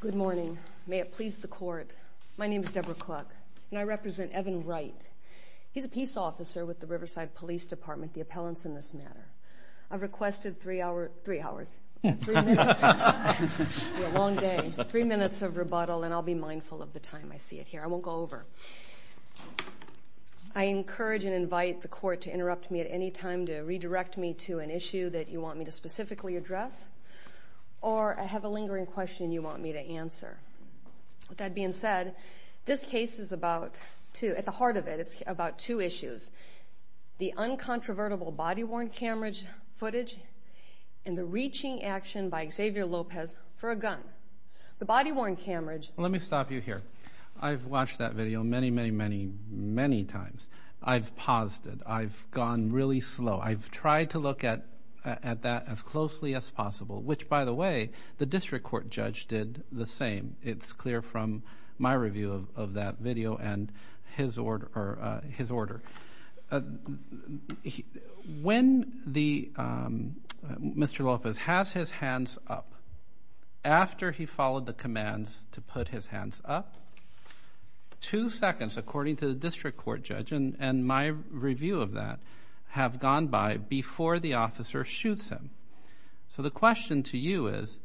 Good morning. May it please the court. My name is Debra Kluck and I represent Evan Wright. He's a peace officer with the Riverside Police Department, the appellants in this matter. I've requested three hours... Three hours. Three minutes. It's been a long day. Three minutes of rebuttal and I'll be mindful of the time I see it here. I won't go over. I encourage and invite the court to interrupt me at any time to redirect me to an issue that you want me to specifically address or I have a lingering question you want me to answer. That being said, this case is about two, at the heart of it, it's about two issues. The uncontrovertible body-worn camera footage and the reaching action by Xavier Lopez for a gun. The body-worn camera... Let me stop you here. I've watched that video many, many, many times. I've paused it. I've gone really slow. I've tried to look at that as closely as possible, which by the way, the district court judge did the same. It's clear from my review of that video and his order. When Mr. Lopez has his hands up, after he followed the commands to put his hands up, two seconds according to the district court judge, and my review of that, have gone by before the officer shoots him. So the question to you is,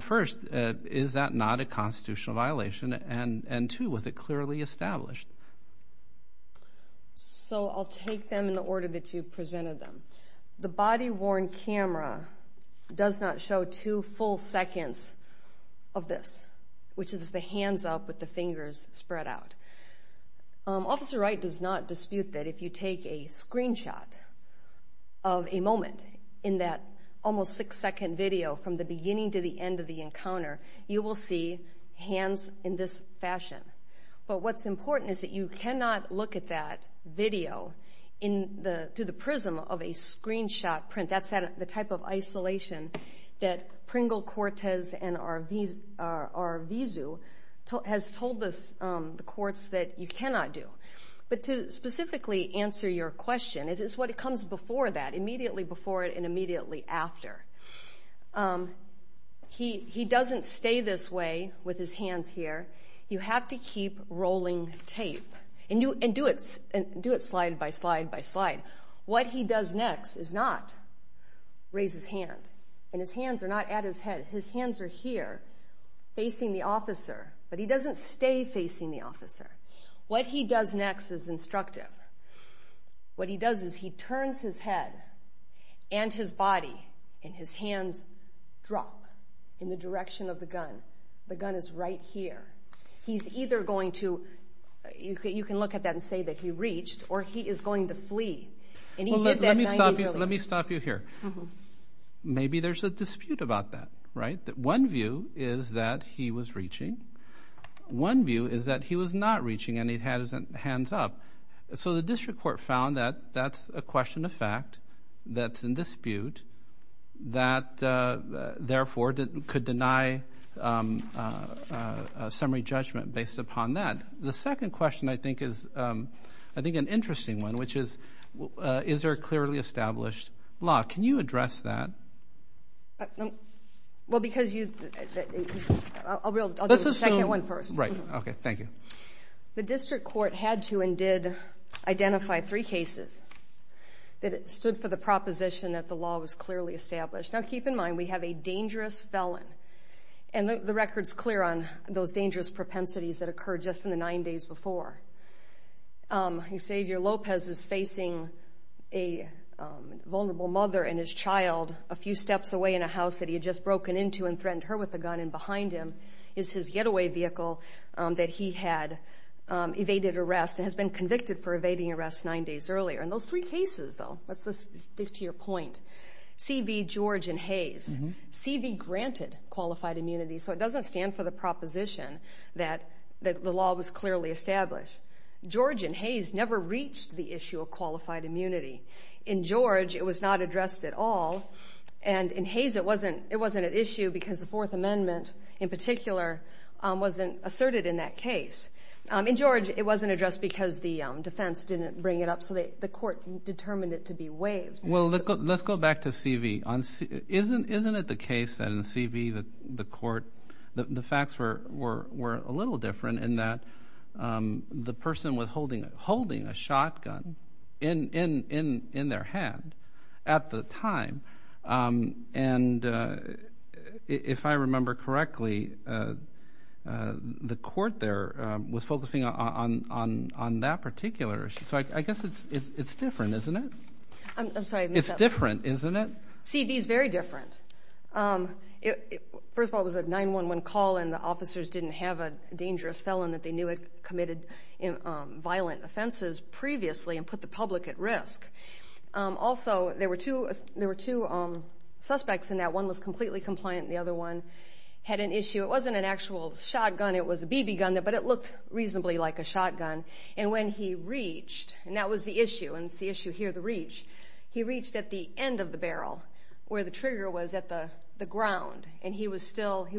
first, is that not a constitutional violation? And two, was it clearly established? So I'll take them in the order that you presented them. The body-worn camera does not show two full Officer Wright does not dispute that if you take a screenshot of a moment in that almost six-second video from the beginning to the end of the encounter, you will see hands in this fashion. But what's important is that you cannot look at that video through the prism of a screenshot print. That's the type of isolation that Pringle, Cortez, and Arvizu has told the courts that you cannot do. But to specifically answer your question, it is what comes before that, immediately before it and immediately after. He doesn't stay this way with his hands here. You have to keep rolling tape and do it slide by slide by slide. What he does next is not raise his hand and his hands are not at his head. His hands are here facing the officer, but he doesn't stay facing the officer. What he does next is instructive. What he does is he turns his head and his body and his hands drop in the direction of the gun. The gun is right here. He's either going to, you can look at that and say that he reached, or he is going to flee. And he did that nine days earlier. Let me stop you here. Maybe there's a dispute about that, right? One view is that he was reaching. One view is that he was not reaching and he had his hands up. So the district court found that that's a question of fact that's in dispute, that therefore could deny summary judgment based upon that. The second question I think is, I think an interesting one, which is, is there a clearly established law? Can you address that? Well, because you, I'll do the second one first. Right. Okay. Thank you. The district court had to and did identify three cases that stood for the proposition that the law was clearly established. Now, keep in mind, we have a dangerous felon. And the record's clear on those dangerous propensities that occurred just in the nine days before. Xavier Lopez is facing a few steps away in a house that he had just broken into and threatened her with a gun. And behind him is his getaway vehicle that he had evaded arrest and has been convicted for evading arrest nine days earlier. And those three cases, though, let's just stick to your point. C. V. George and Hayes. C. V. granted qualified immunity. So it doesn't stand for the proposition that the law was clearly established. George and Hayes never reached the issue of qualified immunity. In George, it was not addressed at all. And in Hayes, it wasn't an issue because the Fourth Amendment, in particular, wasn't asserted in that case. In George, it wasn't addressed because the defense didn't bring it up. So the court determined it to be waived. Well, let's go back to C. V. Isn't it the case that in C. V., the court, the facts were a little different, in that the person was holding a shotgun in their hand at the time. And if I remember correctly, the court there was focusing on that particular issue. So I guess it's different, isn't it? I'm sorry. It's different, isn't it? C. V.'s very different. First of all, it was a 911 call, and the officers didn't have a dangerous felon that they knew had committed violent offenses previously and put the public at risk. Also, there were two suspects in that. One was completely compliant, and the other one had an issue. It wasn't an actual shotgun. It was a BB gun, but it looked reasonably like a shotgun. And when he reached, and that was the issue, and it's the issue here, the reach, he reached at the end of the barrel, where the trigger was at the ground. And he was still... There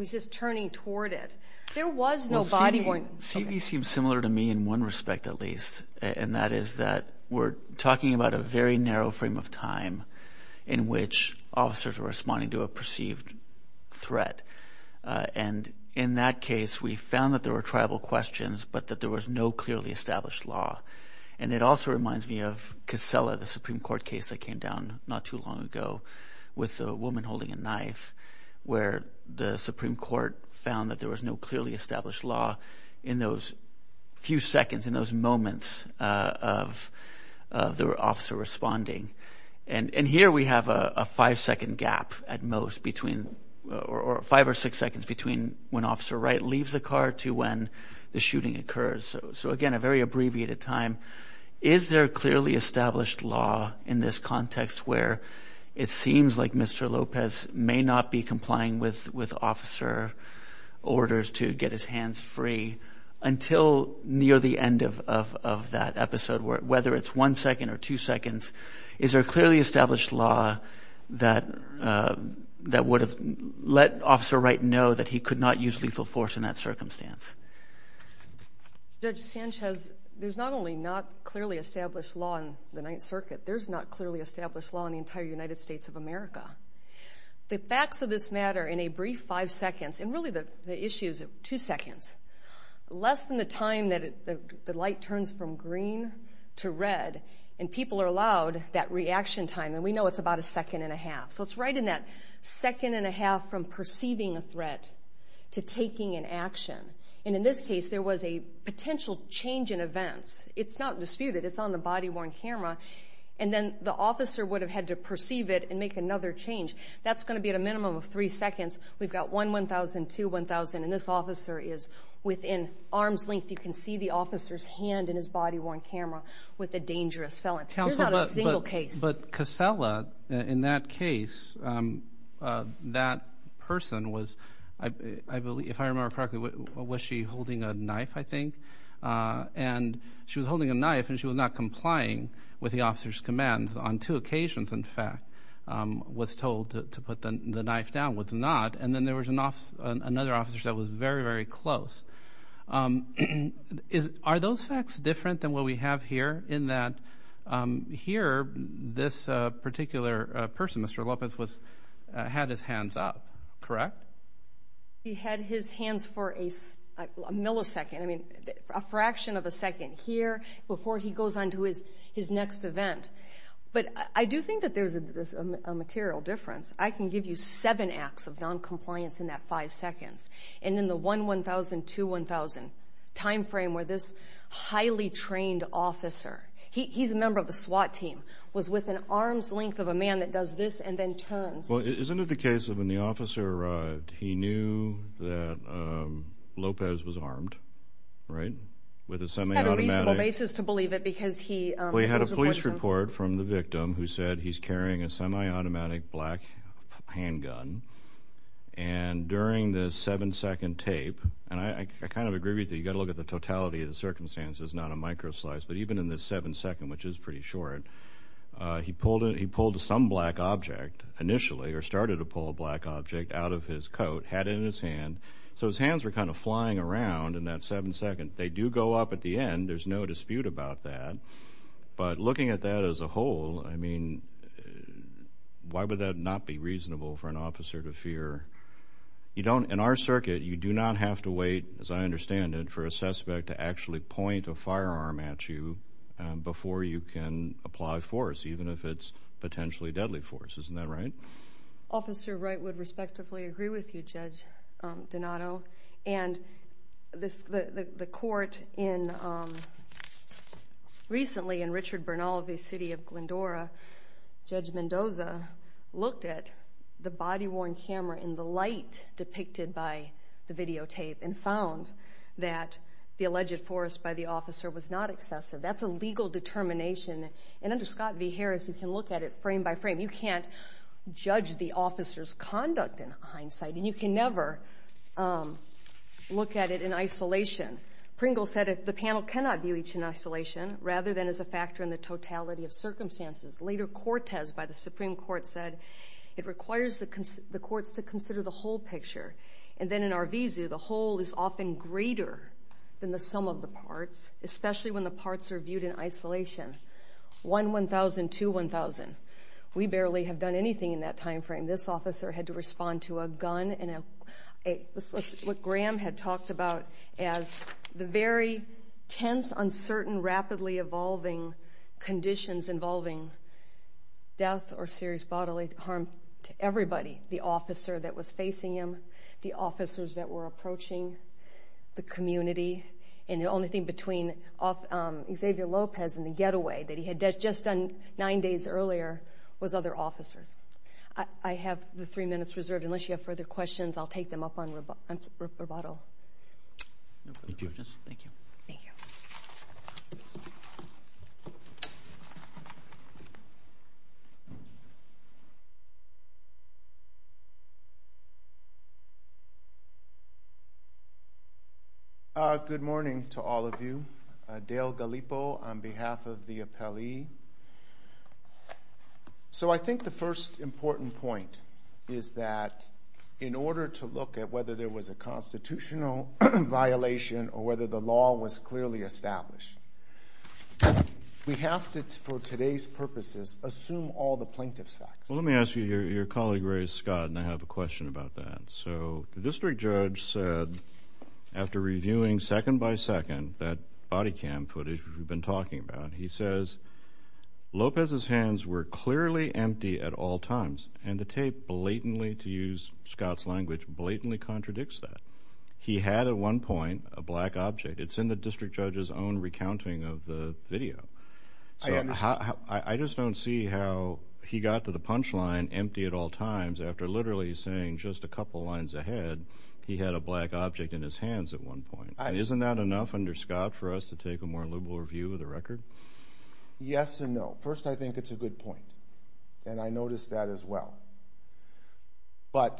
was no body going... C. V. seems similar to me in one respect, at least, and that is that we're talking about a very narrow frame of time in which officers are responding to a perceived threat. And in that case, we found that there were tribal questions, but that there was no clearly established law. And it also reminds me of Casella, the Supreme Court case that came down not too long ago with a woman holding a knife, where the Supreme Court found that there was no clearly established law in those few seconds, in those moments of the officer responding. And here we have a five second gap at most between... Or five or six seconds between when Officer Wright leaves the car to when the shooting occurs. So again, a very abbreviated time. Is there clearly established law in this context where it seems like Mr. Lopez may not be complying with officer orders to get his hands free until near the end of that episode, whether it's one second or two seconds? Is there clearly established law that would have let Officer Wright know that he could not use lethal force in that circumstance? Judge Sanchez, there's not only not clearly established law in the Ninth Circuit, there's not clearly established law in the entire United States of America. The facts of this matter in a brief five seconds, and really the issue is two seconds, less than the time that the light turns from green to red, and people are allowed that reaction time, and we know it's about a second and a half. So it's right in that second and a half from perceiving a threat to taking an action. And in this case, there was a potential change in events. It's not disputed. It's on the body worn camera. And then the officer would have had to perceive it and make another change. That's gonna be at a minimum of three seconds. We've got one 1,000, two 1,000, and this officer is within arm's length. You can see the officer's hand in his body worn camera with a dangerous felon. There's not a single case. But Casella, in that case, that person was, I believe, if I remember correctly, was she holding a knife, I think? And she was holding a knife, and she was not complying with the officer's commands. On two occasions, in fact, was told to put the knife down, was not. And then there was another officer that was very, very close. Are those facts different than what we have here? In that here, this particular person, Mr. Lopez, had his hands up, correct? He had his hands for a millisecond. I mean, a fraction of a second here before he goes on to his next event. But I do think that there's a material difference. I can give you seven acts of non compliance in that five seconds. And in the one 1,000, two 1,000 time frame where this highly trained officer, he's a member of the SWAT team, was within arm's length of a man that does this and then turns. Well, isn't it the case that when the officer arrived, he knew that Lopez was armed, right? With a semi automatic... He had a reasonable basis to believe it because he... Well, he had a police report from the victim who said he's carrying a semi automatic black handgun. And during the seven second tape, and I kind of agree with you, you gotta look at the totality of the circumstances, not a micro slice. But even in this seven second, which is pretty short, he pulled some black object initially, or started to pull a black object out of his coat, had it in his hand. So his hands were kind of flying around in that seven second. They do go up at the end, there's no dispute about that. But looking at that as a whole, I mean, why would that not be reasonable for an officer to fear? You don't... In our circuit, you do not have to wait, as I understand it, for a suspect to actually point a firearm at you before you can apply force, even if it's potentially deadly force. Isn't that right? Officer Wright would respectively agree with you, Judge Donato. And the court in... Recently in Richard Bernal, the city of Glendora, Judge Mendoza looked at the body worn camera in the light depicted by the videotape and found that the alleged force by the officer was not excessive. That's a legal determination. And under Scott v. Harris, you can look at it frame by frame. You can't judge the officer's conduct in hindsight, and you can never look at it in isolation. Pringle said that the panel cannot view each in isolation, rather than as a factor in the totality of circumstances. Later, Cortes, by the Supreme Court, said it requires the courts to consider the whole picture. And then in Arvizu, the whole is often greater than the sum of the parts, especially when the parts are viewed in isolation. 1, 1,000, 2, 1,000. We barely have done anything in that time frame. This officer had to respond to a gun and a... What Graham had talked about as the very tense, uncertain, rapidly evolving conditions involving death or serious bodily harm to everybody. The officer that was facing him, the officers that were approaching, the community, and the only thing between Xavier Lopez and the getaway that he had just done nine days earlier was other officers. I have the three minutes reserved. Unless you have further questions, I'll take them up on rubato. Thank you. Thank you. Thank you. Good morning to all of you. Dale Gallipo on behalf of the appellee. So I think the first important point is that in order to look at whether there was a constitutional violation or whether the law was clearly established, we have to, for today's purposes, assume all the plaintiff's facts. Well, let me ask you, your colleague raised Scott, and I have a question about that. So the district judge said, after reviewing second by second that body cam footage we've been talking about, he says, Lopez's hands were clearly empty at all times, and the tape blatantly, to use Scott's language, blatantly contradicts that. He had at one point a black object. It's in the district judge's own recounting of the video. I just don't see how he got to the punch line empty at all times after literally saying, just a couple lines ahead, he had a black object in his hands at one point. And isn't that enough under Scott for us to take a more liberal review of the record? Yes and no. First, I think it's a good point, and I noticed that as well. But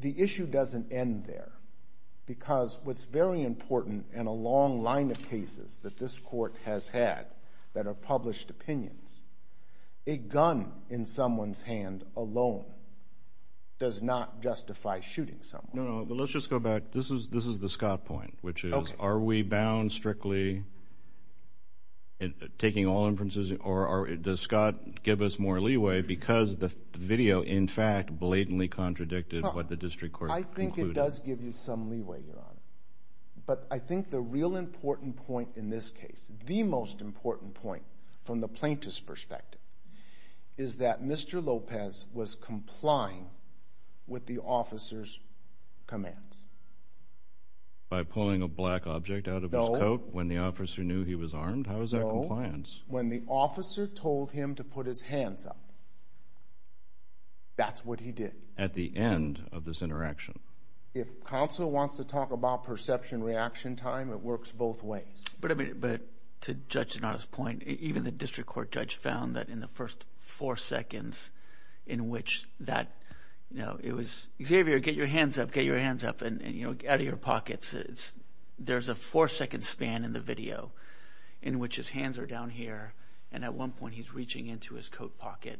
the issue doesn't end there, because what's very important in a long line of cases that this court has had that are published opinions, a gun in someone's hand alone does not justify shooting someone. No, no, but let's just go back. This is the Scott point, which is, are we bound strictly taking all inferences, or does Scott give us more leeway because the video, in fact, blatantly contradicted what the district court concluded? I think it does give you some leeway, Your Honor. But I think the real important point in this case, the most important point from the plaintiff's perspective, is that Mr. Lopez was complying with the officer's commands. By pulling a black object out of his coat when the officer knew he was armed? How is that compliance? No. When the officer told him to put his hands up, that's what he did. At the end of this interaction. If counsel wants to talk about perception reaction time, it works both ways. But to Judge Donato's point, even the district court judge found that in the first four seconds in which that... It was, Xavier, get your hands up, get your hands up, out of your pockets. There's a four second span in the video, in which his hands are down here, and at one point he's reaching into his coat pocket,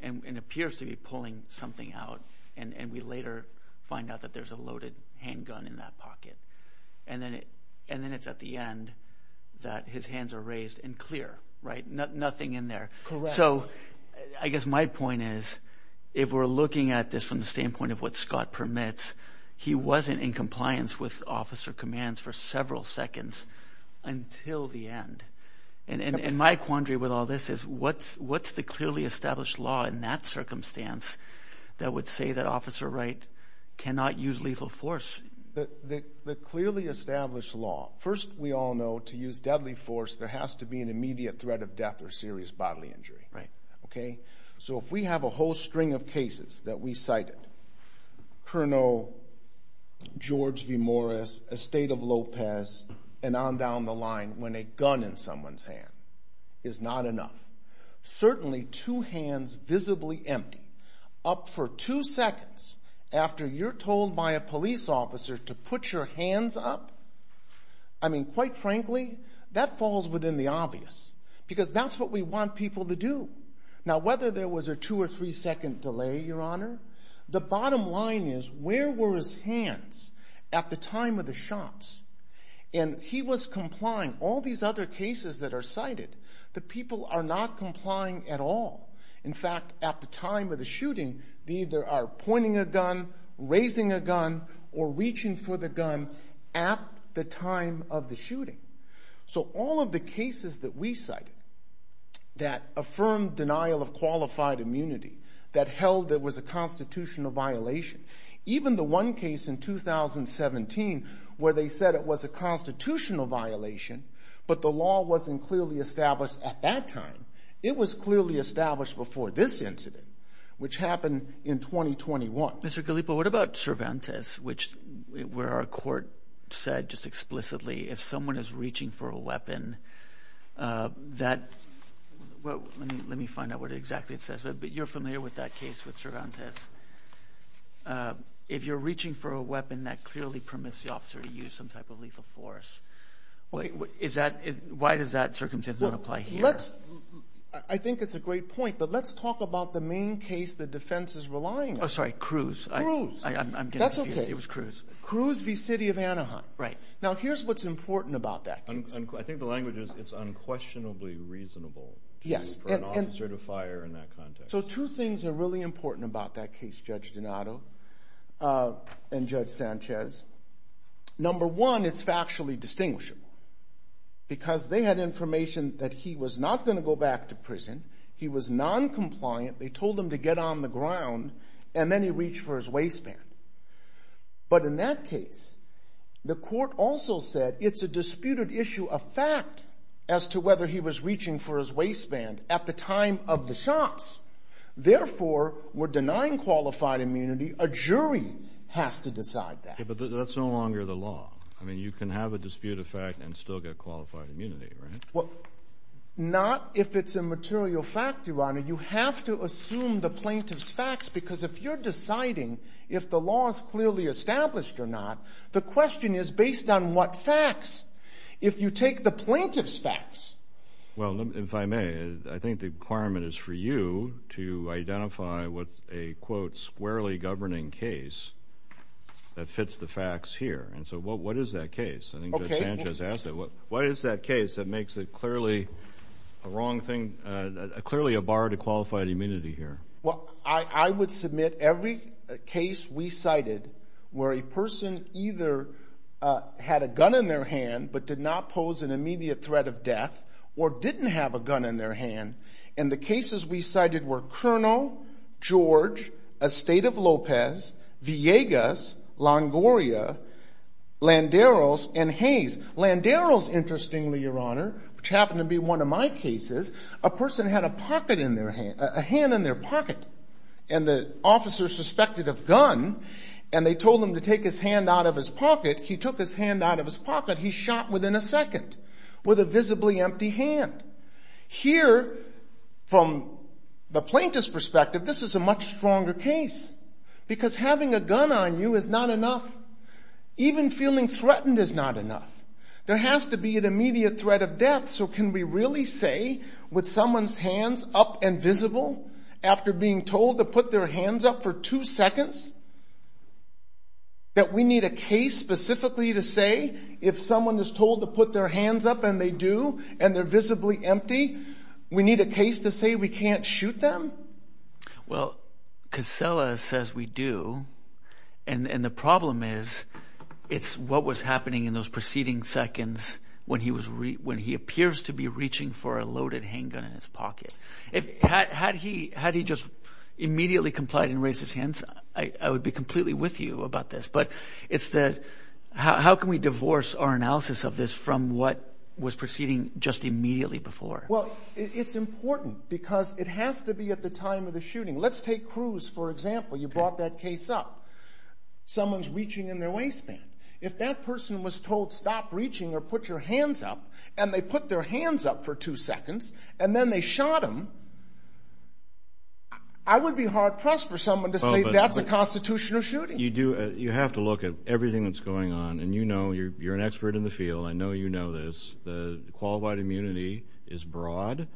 and appears to be pulling something out, and we later find out that there's a loaded handgun in that pocket. And then it's at the end that his hands are raised and clear, nothing in there. Correct. So I guess my point is, if we're looking at this from the standpoint of what Scott permits, he wasn't in compliance with officer commands for several seconds until the end. And my quandary with all this is, what's the clearly established law in that circumstance that would say that Officer Wright cannot use lethal force? The clearly established law. First, we all know to use deadly force, there has to be an immediate threat of death or serious bodily injury. Right. Okay? So if we have a whole string of cases that we cited, Kernow, George v. Morris, Estate of Lopez, and on down the line when a gun in someone's hand is not enough, certainly two hands visibly empty, up for two seconds after you're told by a police officer to put your hands up, quite frankly, that falls within the obvious, because that's what we want people to do. Now, whether there was a two or three second delay, Your Honor, the bottom line is, where were his hands at the time of the shots? And he was complying. All these other cases that are cited, the people are not complying at all. In fact, at the time of the shooting, they either are pointing a gun, raising a gun, or reaching for the gun at the time of the shooting. So all of the cases that we cited that affirmed denial of qualified immunity, that held there was a constitutional violation, even the one case in 2017, where they said it was a constitutional violation, but the law wasn't clearly established at that time. It was clearly established before this incident, which happened in 2021. Mr. Galipo, what about Cervantes, which where our court said just explicitly, if someone is reaching for a weapon, that... Let me find out what exactly it says, but you're familiar with that case with Cervantes. It says, if you're reaching for a weapon that clearly permits the officer to use some type of lethal force. Why does that circumstance not apply here? I think it's a great point, but let's talk about the main case the defense is relying on. Oh, sorry, Cruz. Cruz. That's okay. It was Cruz. Cruz v. City of Anaheim. Right. Now, here's what's important about that case. I think the language is, it's unquestionably reasonable for an officer to reach for a weapon. Now, two things are really important about that case, Judge Donato and Judge Sanchez. Number one, it's factually distinguishable, because they had information that he was not gonna go back to prison, he was non compliant, they told him to get on the ground, and then he reached for his waistband. But in that case, the court also said, it's a disputed issue of fact as to whether he was reaching for his waistband at the time of the shots. Therefore, we're denying qualified immunity, a jury has to decide that. Yeah, but that's no longer the law. You can have a dispute of fact and still get qualified immunity, right? Well, not if it's a material fact, Your Honor. You have to assume the plaintiff's facts, because if you're deciding if the law is clearly established or not, the question is based on what facts? If you take the plaintiff's facts... Well, if I may, I think the requirement is for you to identify what's a, quote, squarely governing case that fits the facts here. And so what is that case? I think Judge Sanchez asked that. What is that case that makes it clearly a wrong thing, clearly a bar to qualified immunity here? Well, I would submit every case we cited where a person either had a gun in their hand, but did not pose an immediate threat of death, or didn't have a gun in their hand. And the cases we cited were Cerno, George, Estate of Lopez, Villegas, Longoria, Landeros, and Hayes. Landeros, interestingly, Your Honor, which happened to be one of my cases, a person had a pocket in their hand, a hand in their pocket, and the officer suspected of gun, and they told him to take his hand out of his pocket, he took his hand out of his pocket, he shot within a second with a visibly empty hand. Here, from the plaintiff's perspective, this is a much stronger case, because having a gun on you is not enough. Even feeling threatened is not enough. There has to be an immediate threat of death, so can we really say, with someone's hands up and visible, after being told to put their hands up for two seconds, that we need a case specifically to say, if someone is told to put their hands up, and they do, and they're visibly empty, we need a case to say we can't shoot them? Well, Casella says we do, and the problem is, it's what was happening in those preceding seconds when he appears to be reaching for a loaded handgun in his pocket. Had he just immediately complied and raised his hands, I would be completely with you about this, but it's the... How can we divorce our analysis of this from what was proceeding just immediately before? Well, it's important, because it has to be at the time of the shooting. Let's take Cruz, for example. You brought that case up. Someone's reaching in their waistband. If that person was told, stop reaching or put your hands up, and they put their hands up for two seconds, and then they shot him, I would be hard pressed for someone to say, that's a constitutional shooting. You do... You have to look at everything that's going on, and you know, you're an expert in the field, I know you know this. The qualified immunity is broad.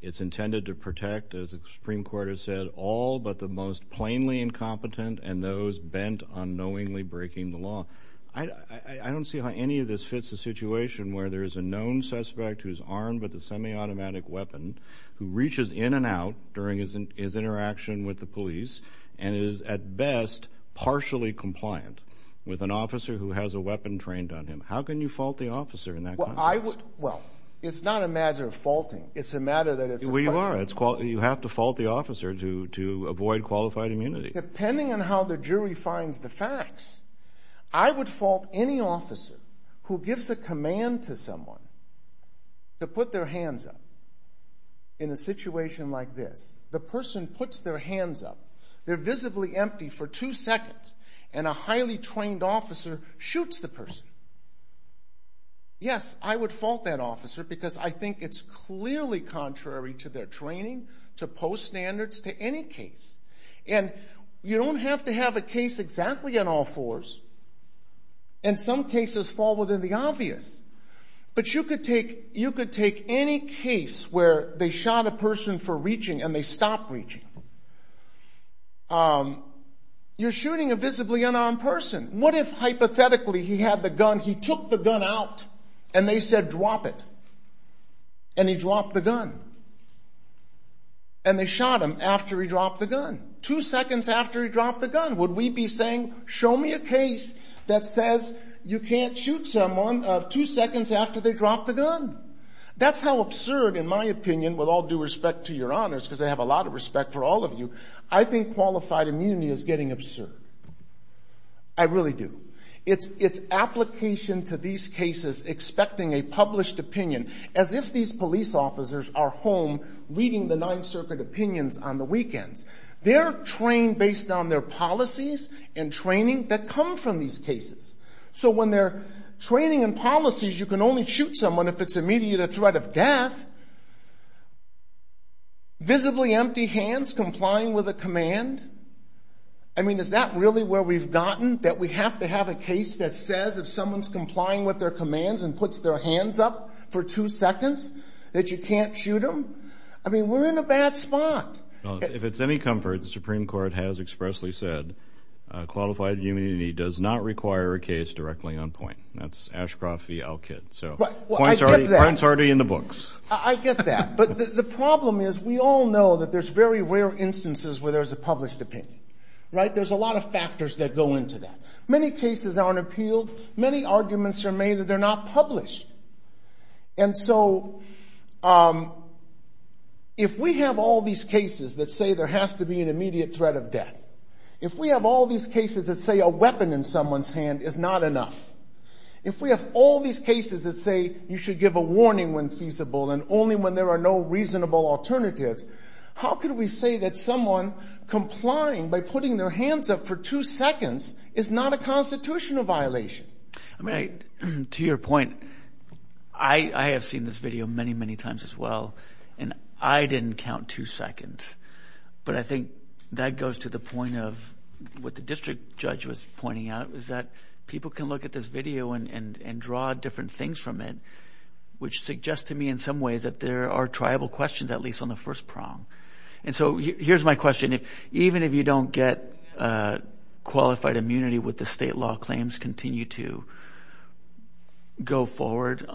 It's intended to protect, as the Supreme Court has said, all but the most plainly incompetent and those bent on this fits the situation where there is a known suspect who's armed with a semi automatic weapon, who reaches in and out during his interaction with the police, and is at best, partially compliant with an officer who has a weapon trained on him. How can you fault the officer in that context? Well, I would... Well, it's not a matter of faulting. It's a matter that it's... Well, you are. You have to fault the officer to avoid qualified immunity. Depending on how the jury finds the officer who gives a command to someone to put their hands up in a situation like this, the person puts their hands up, they're visibly empty for two seconds, and a highly trained officer shoots the person. Yes, I would fault that officer because I think it's clearly contrary to their training, to post standards, to any case. And you don't have to take a case exactly in all fours, and some cases fall within the obvious. But you could take any case where they shot a person for reaching and they stopped reaching. You're shooting a visibly unarmed person. What if hypothetically he had the gun, he took the gun out, and they said, drop it? And he dropped the gun. And they shot him after he dropped the gun. Would you be saying, show me a case that says you can't shoot someone two seconds after they drop the gun? That's how absurd, in my opinion, with all due respect to your honors, because I have a lot of respect for all of you, I think qualified immunity is getting absurd. I really do. It's application to these cases, expecting a published opinion, as if these police officers are home reading the Ninth Circuit opinions on the weekends. They're trained based on their policies and training that come from these cases. So when they're training and policies, you can only shoot someone if it's immediate threat of death. Visibly empty hands, complying with a command. I mean, is that really where we've gotten? That we have to have a case that says if someone's complying with their commands and puts their hands up for two seconds, that you can't shoot them? I mean, we're in a bad spot. If it's any comfort, the Supreme Court has expressly said qualified immunity does not require a case directly on point. That's Ashcroft v. Elkid. So points are already in the books. I get that. But the problem is, we all know that there's very rare instances where there's a published opinion, right? There's a lot of factors that go into that. Many cases aren't appealed. Many arguments are made that they're not published. And so, if we have all these cases that say there has to be an immediate threat of death, if we have all these cases that say a weapon in someone's hand is not enough, if we have all these cases that say you should give a warning when feasible and only when there are no reasonable alternatives, how can we say that someone complying by putting their hands up for two seconds is not a constitutional violation? I mean, to your point, I have seen this video many, many times as well, and I didn't count two seconds. But I think that goes to the point of what the district judge was pointing out, is that people can look at this video and draw different things from it, which suggests to me in some ways that there are triable questions, at least on the first prong. And so, here's my question. Even if you don't get qualified immunity, would the state law claims continue to go forward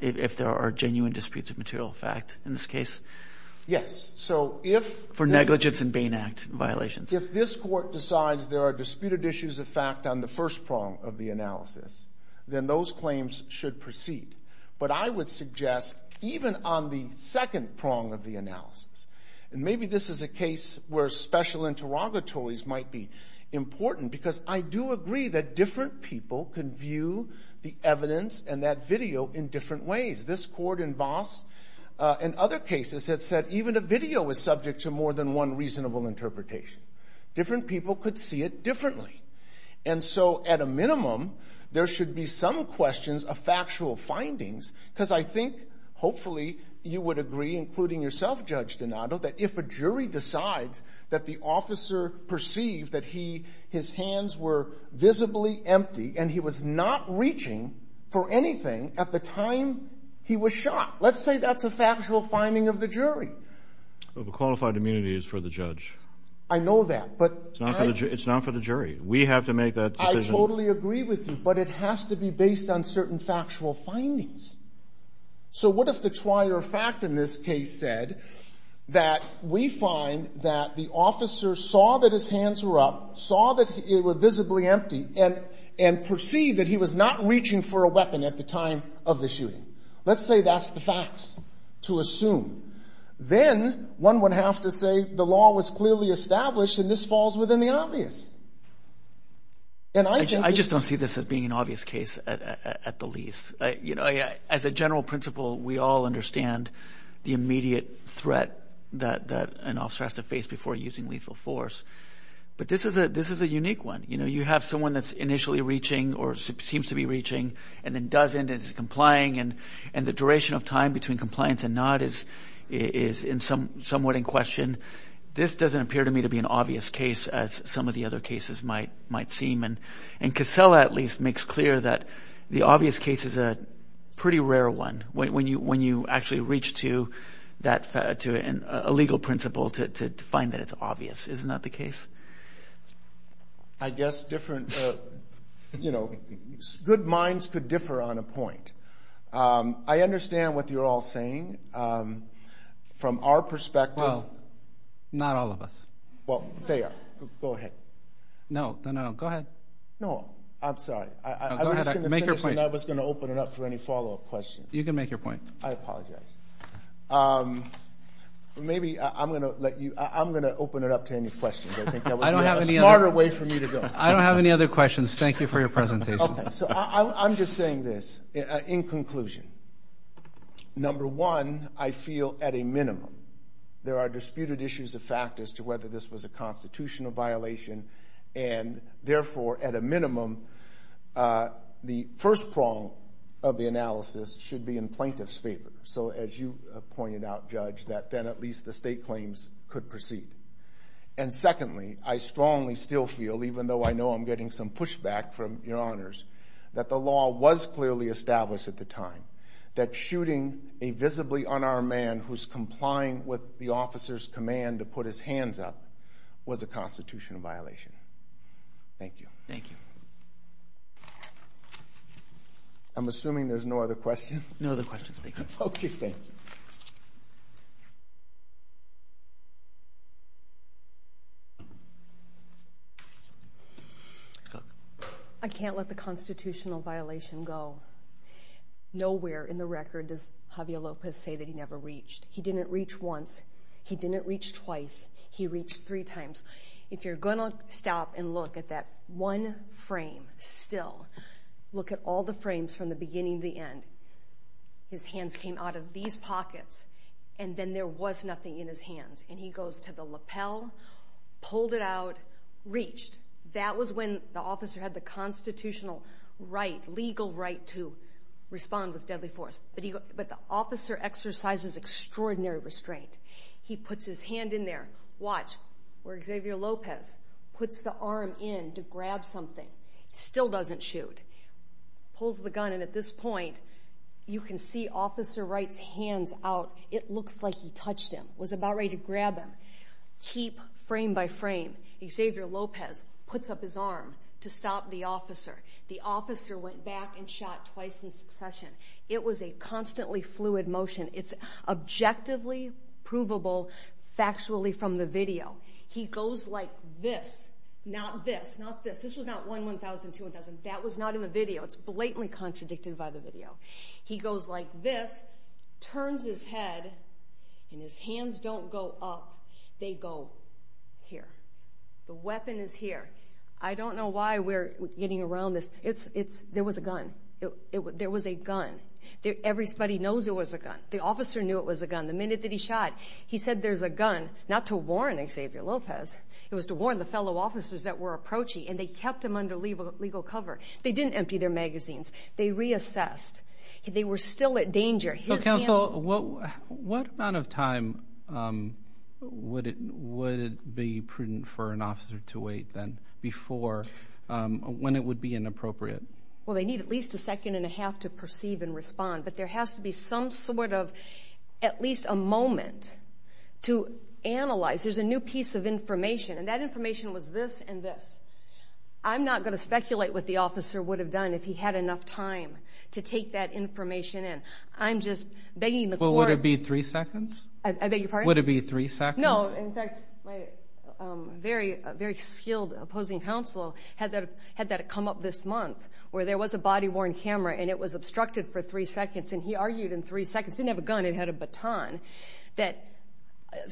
if there are genuine disputes of material fact in this case? Yes. So if... For negligence in Bain Act violations. If this court decides there are disputed issues of fact on the first prong of the analysis, then those claims should proceed. But I would suggest even on the second prong of the analysis, and maybe this is a case where special interrogatories might be important, because I do agree that different people can view the evidence and that video in different ways. This court in Voss and other cases had said even a video was subject to more than one reasonable interpretation. Different people could see it differently. And so, at a minimum, there should be some questions of factual findings, because I think, hopefully, you would agree, including yourself, Judge Donato, that if a jury decides that the officer perceived that his hands were visibly empty and he was not reaching for anything at the time he was shot, let's say that's a factual finding of the jury. Overqualified immunity is for the judge. I know that, but... It's not for the jury. We have to make that decision. I totally agree with you, but it has to be based on certain factual findings. So, what if the twier fact in this case said that we find that the officer saw that his hands were up, saw that they were visibly empty, and perceived that he was not reaching for a weapon at the time of the shooting? Let's say that's the facts to assume. Then, one would have to say the law was clearly established, and this falls within the obvious. And I... I just don't see this as being an obvious case at the least. As a general principle, we all understand the immediate threat that an officer has to face before using lethal force. But this is a unique one. You have someone that's initially reaching, or seems to be reaching, and then doesn't, is complying, and the duration of time between compliance and not is somewhat in question. This doesn't appear to me to be an obvious case as some of the other cases might seem. And Casella, at least, makes clear that the obvious case is a pretty rare one, when you actually reach to a legal principle to find that it's obvious. Isn't that the case? I guess different... Good minds could differ on a point. I understand what you're all saying. From our perspective... Well, not all of us. Well, they are. Go ahead. No, no, no. Go ahead. No, I'm sorry. I was just gonna say... Make your point. And I was gonna open it up for any follow up questions. You can make your point. I apologize. Maybe I'm gonna let you... I'm gonna open it up to any questions. I think that would be a smarter way for me to go. I don't have any other questions. Thank you for your presentation. Okay. So I'm just saying this, in conclusion. Number one, I feel at a minimum, there are disputed issues of factors to whether this was a constitutional violation, and therefore, at a minimum, the first prong of the analysis should be in plaintiff's favor. So as you pointed out, Judge, that then at least the state claims could proceed. And secondly, I strongly still feel, even though I know I'm getting some pushback from your honors, that the law was clearly established at the time, that shooting a visibly unarmed man who's complying with the officer's command to put his hands up was a constitutional violation. Thank you. Thank you. I'm assuming there's no other questions? No other questions. Thank you. Okay, thank you. I can't let the constitutional violation go. Nowhere in the record does Javier Lopez say that he never reached. He didn't reach once. He didn't reach twice. He reached three times. If you're going to stop and look at that one frame still, look at all the frames from the beginning to the end. His hands came out of these pockets, and then there was nothing in his hands. And he goes to the lapel, pulled it out, reached. That was when the officer had the constitutional right, legal right, to respond with deadly force. But the officer exercises extraordinary restraint. He puts his hand in there. Watch where Xavier Lopez puts the arm in to grab something. Still doesn't shoot. Pulls the gun, and at this point, you can see Officer Wright's hands out. It looks like he touched him, was about ready to grab him. Keep frame by frame. Xavier Lopez puts up his arm to stop the officer. The officer went back and shot twice in the head. This is provable, factually from the video. He goes like this, not this, not this. This was not one, one thousand, two thousand. That was not in the video. It's blatantly contradicted by the video. He goes like this, turns his head, and his hands don't go up. They go here. The weapon is here. I don't know why we're getting around this. There was a gun. There was a gun. Everybody knows it was a gun. The officer knew it was a gun. The minute that he shot, he said, there's a gun, not to warn Xavier Lopez. It was to warn the fellow officers that were approaching, and they kept him under legal cover. They didn't empty their magazines. They reassessed. They were still at danger. His hands... Well, counsel, what amount of time would it be prudent for an officer to wait then before, when it would be inappropriate? Well, they need at least a second and a half to perceive and respond, but there has to be some sort of at least a moment to analyze. There's a new piece of information, and that information was this and this. I'm not gonna speculate what the officer would have done if he had enough time to take that information in. I'm just begging the court... Well, would it be three seconds? I beg your pardon? Would it be three seconds? No. In fact, my very skilled opposing counsel had that come up this month, where there was a body worn camera, and it was obstructed for three seconds, and he argued in three seconds, didn't have a gun, it had a baton, that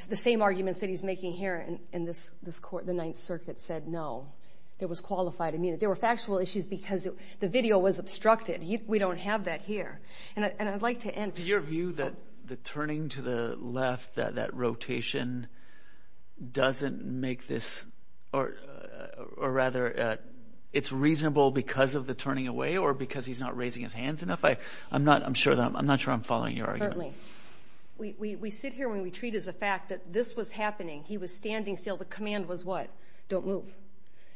the same arguments that he's making here in this court, the Ninth Circuit said, no, it was qualified. I mean, there were factual issues because the video was obstructed. We don't have that here. And I'd like to end... Do your view that the turning to the left, that rotation doesn't make this... Or rather, it's reasonable because of the turning away or because he's not raising his hands enough? I'm not sure I'm following your argument. Certainly. We sit here when we treat as a fact that this was happening. He was standing still. The command was what? Don't move.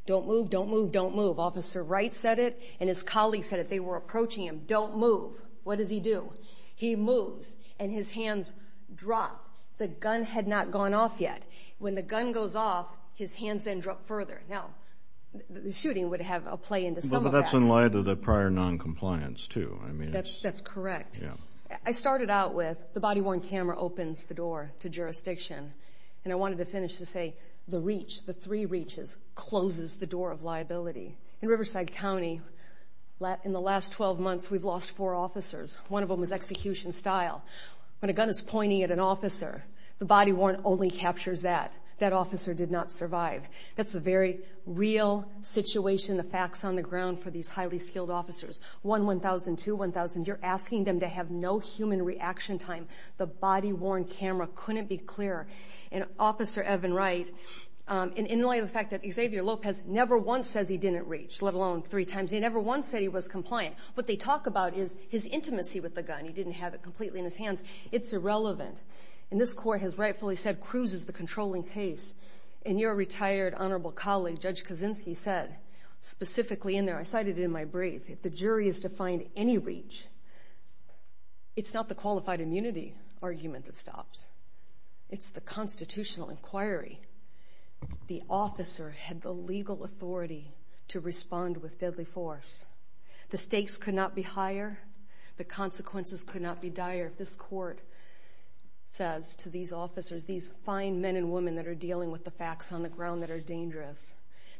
Don't move, don't move, don't move. Officer Wright said it, and his colleagues said it. They were approaching him. Don't move. What does he do? He moves, and his hands drop. The gun had not gone off yet. When the gun goes off, his hands then drop further. Now, the shooting would have a play into some of that. But that's in light of the prior non compliance too. I mean, it's... That's correct. Yeah. I started out with the body worn camera opens the door to jurisdiction. And I wanted to finish to say, the reach, the three reaches closes the door of liability. In Riverside County, in the last 12 months, we've lost four officers. One of them was execution style. When a gun is pointing at an officer, the body worn only captures that. That officer did not survive. That's a very real situation, the facts on the ground for these highly skilled officers. One 1,000, two 1,000. You're asking them to have no human reaction time. The body worn camera couldn't be clearer. And Officer Evan Wright, in light of the fact that Xavier Lopez never once says he didn't reach, let alone three times. He never once said he was compliant. What they talk about is his intimacy with the gun. He didn't have it completely in his hands. It's irrelevant. And this court has rightfully said, cruises the controlling case. And your retired honorable colleague, Judge Kaczynski said, specifically in there, I cited in my brief, if the jury is to find any reach, it's not the qualified immunity argument that stops. It's the constitutional inquiry. The officer had the legal authority to respond with deadly force. The stakes could not be higher. The consequences could not be dire. This court says to these officers, these fine men and women that are dealing with the facts on the ground that are dangerous,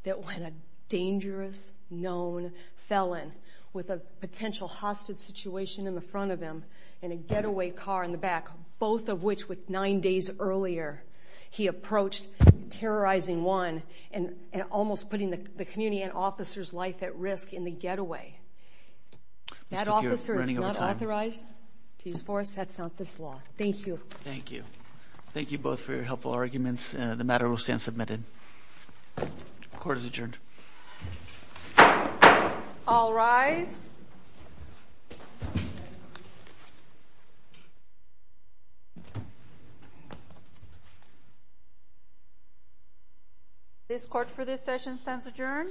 that when a dangerous known felon with a potential hostage situation in the front of him and a getaway car in the back, both of which with nine days earlier, he approached terrorizing one and almost putting the community and officer's life at risk in the getaway. That officer is not authorized to use force. That's not this law. Thank you. Thank you. Thank you both for your helpful arguments. The matter will stand submitted. Court is adjourned. All rise. This court for this session stands adjourned.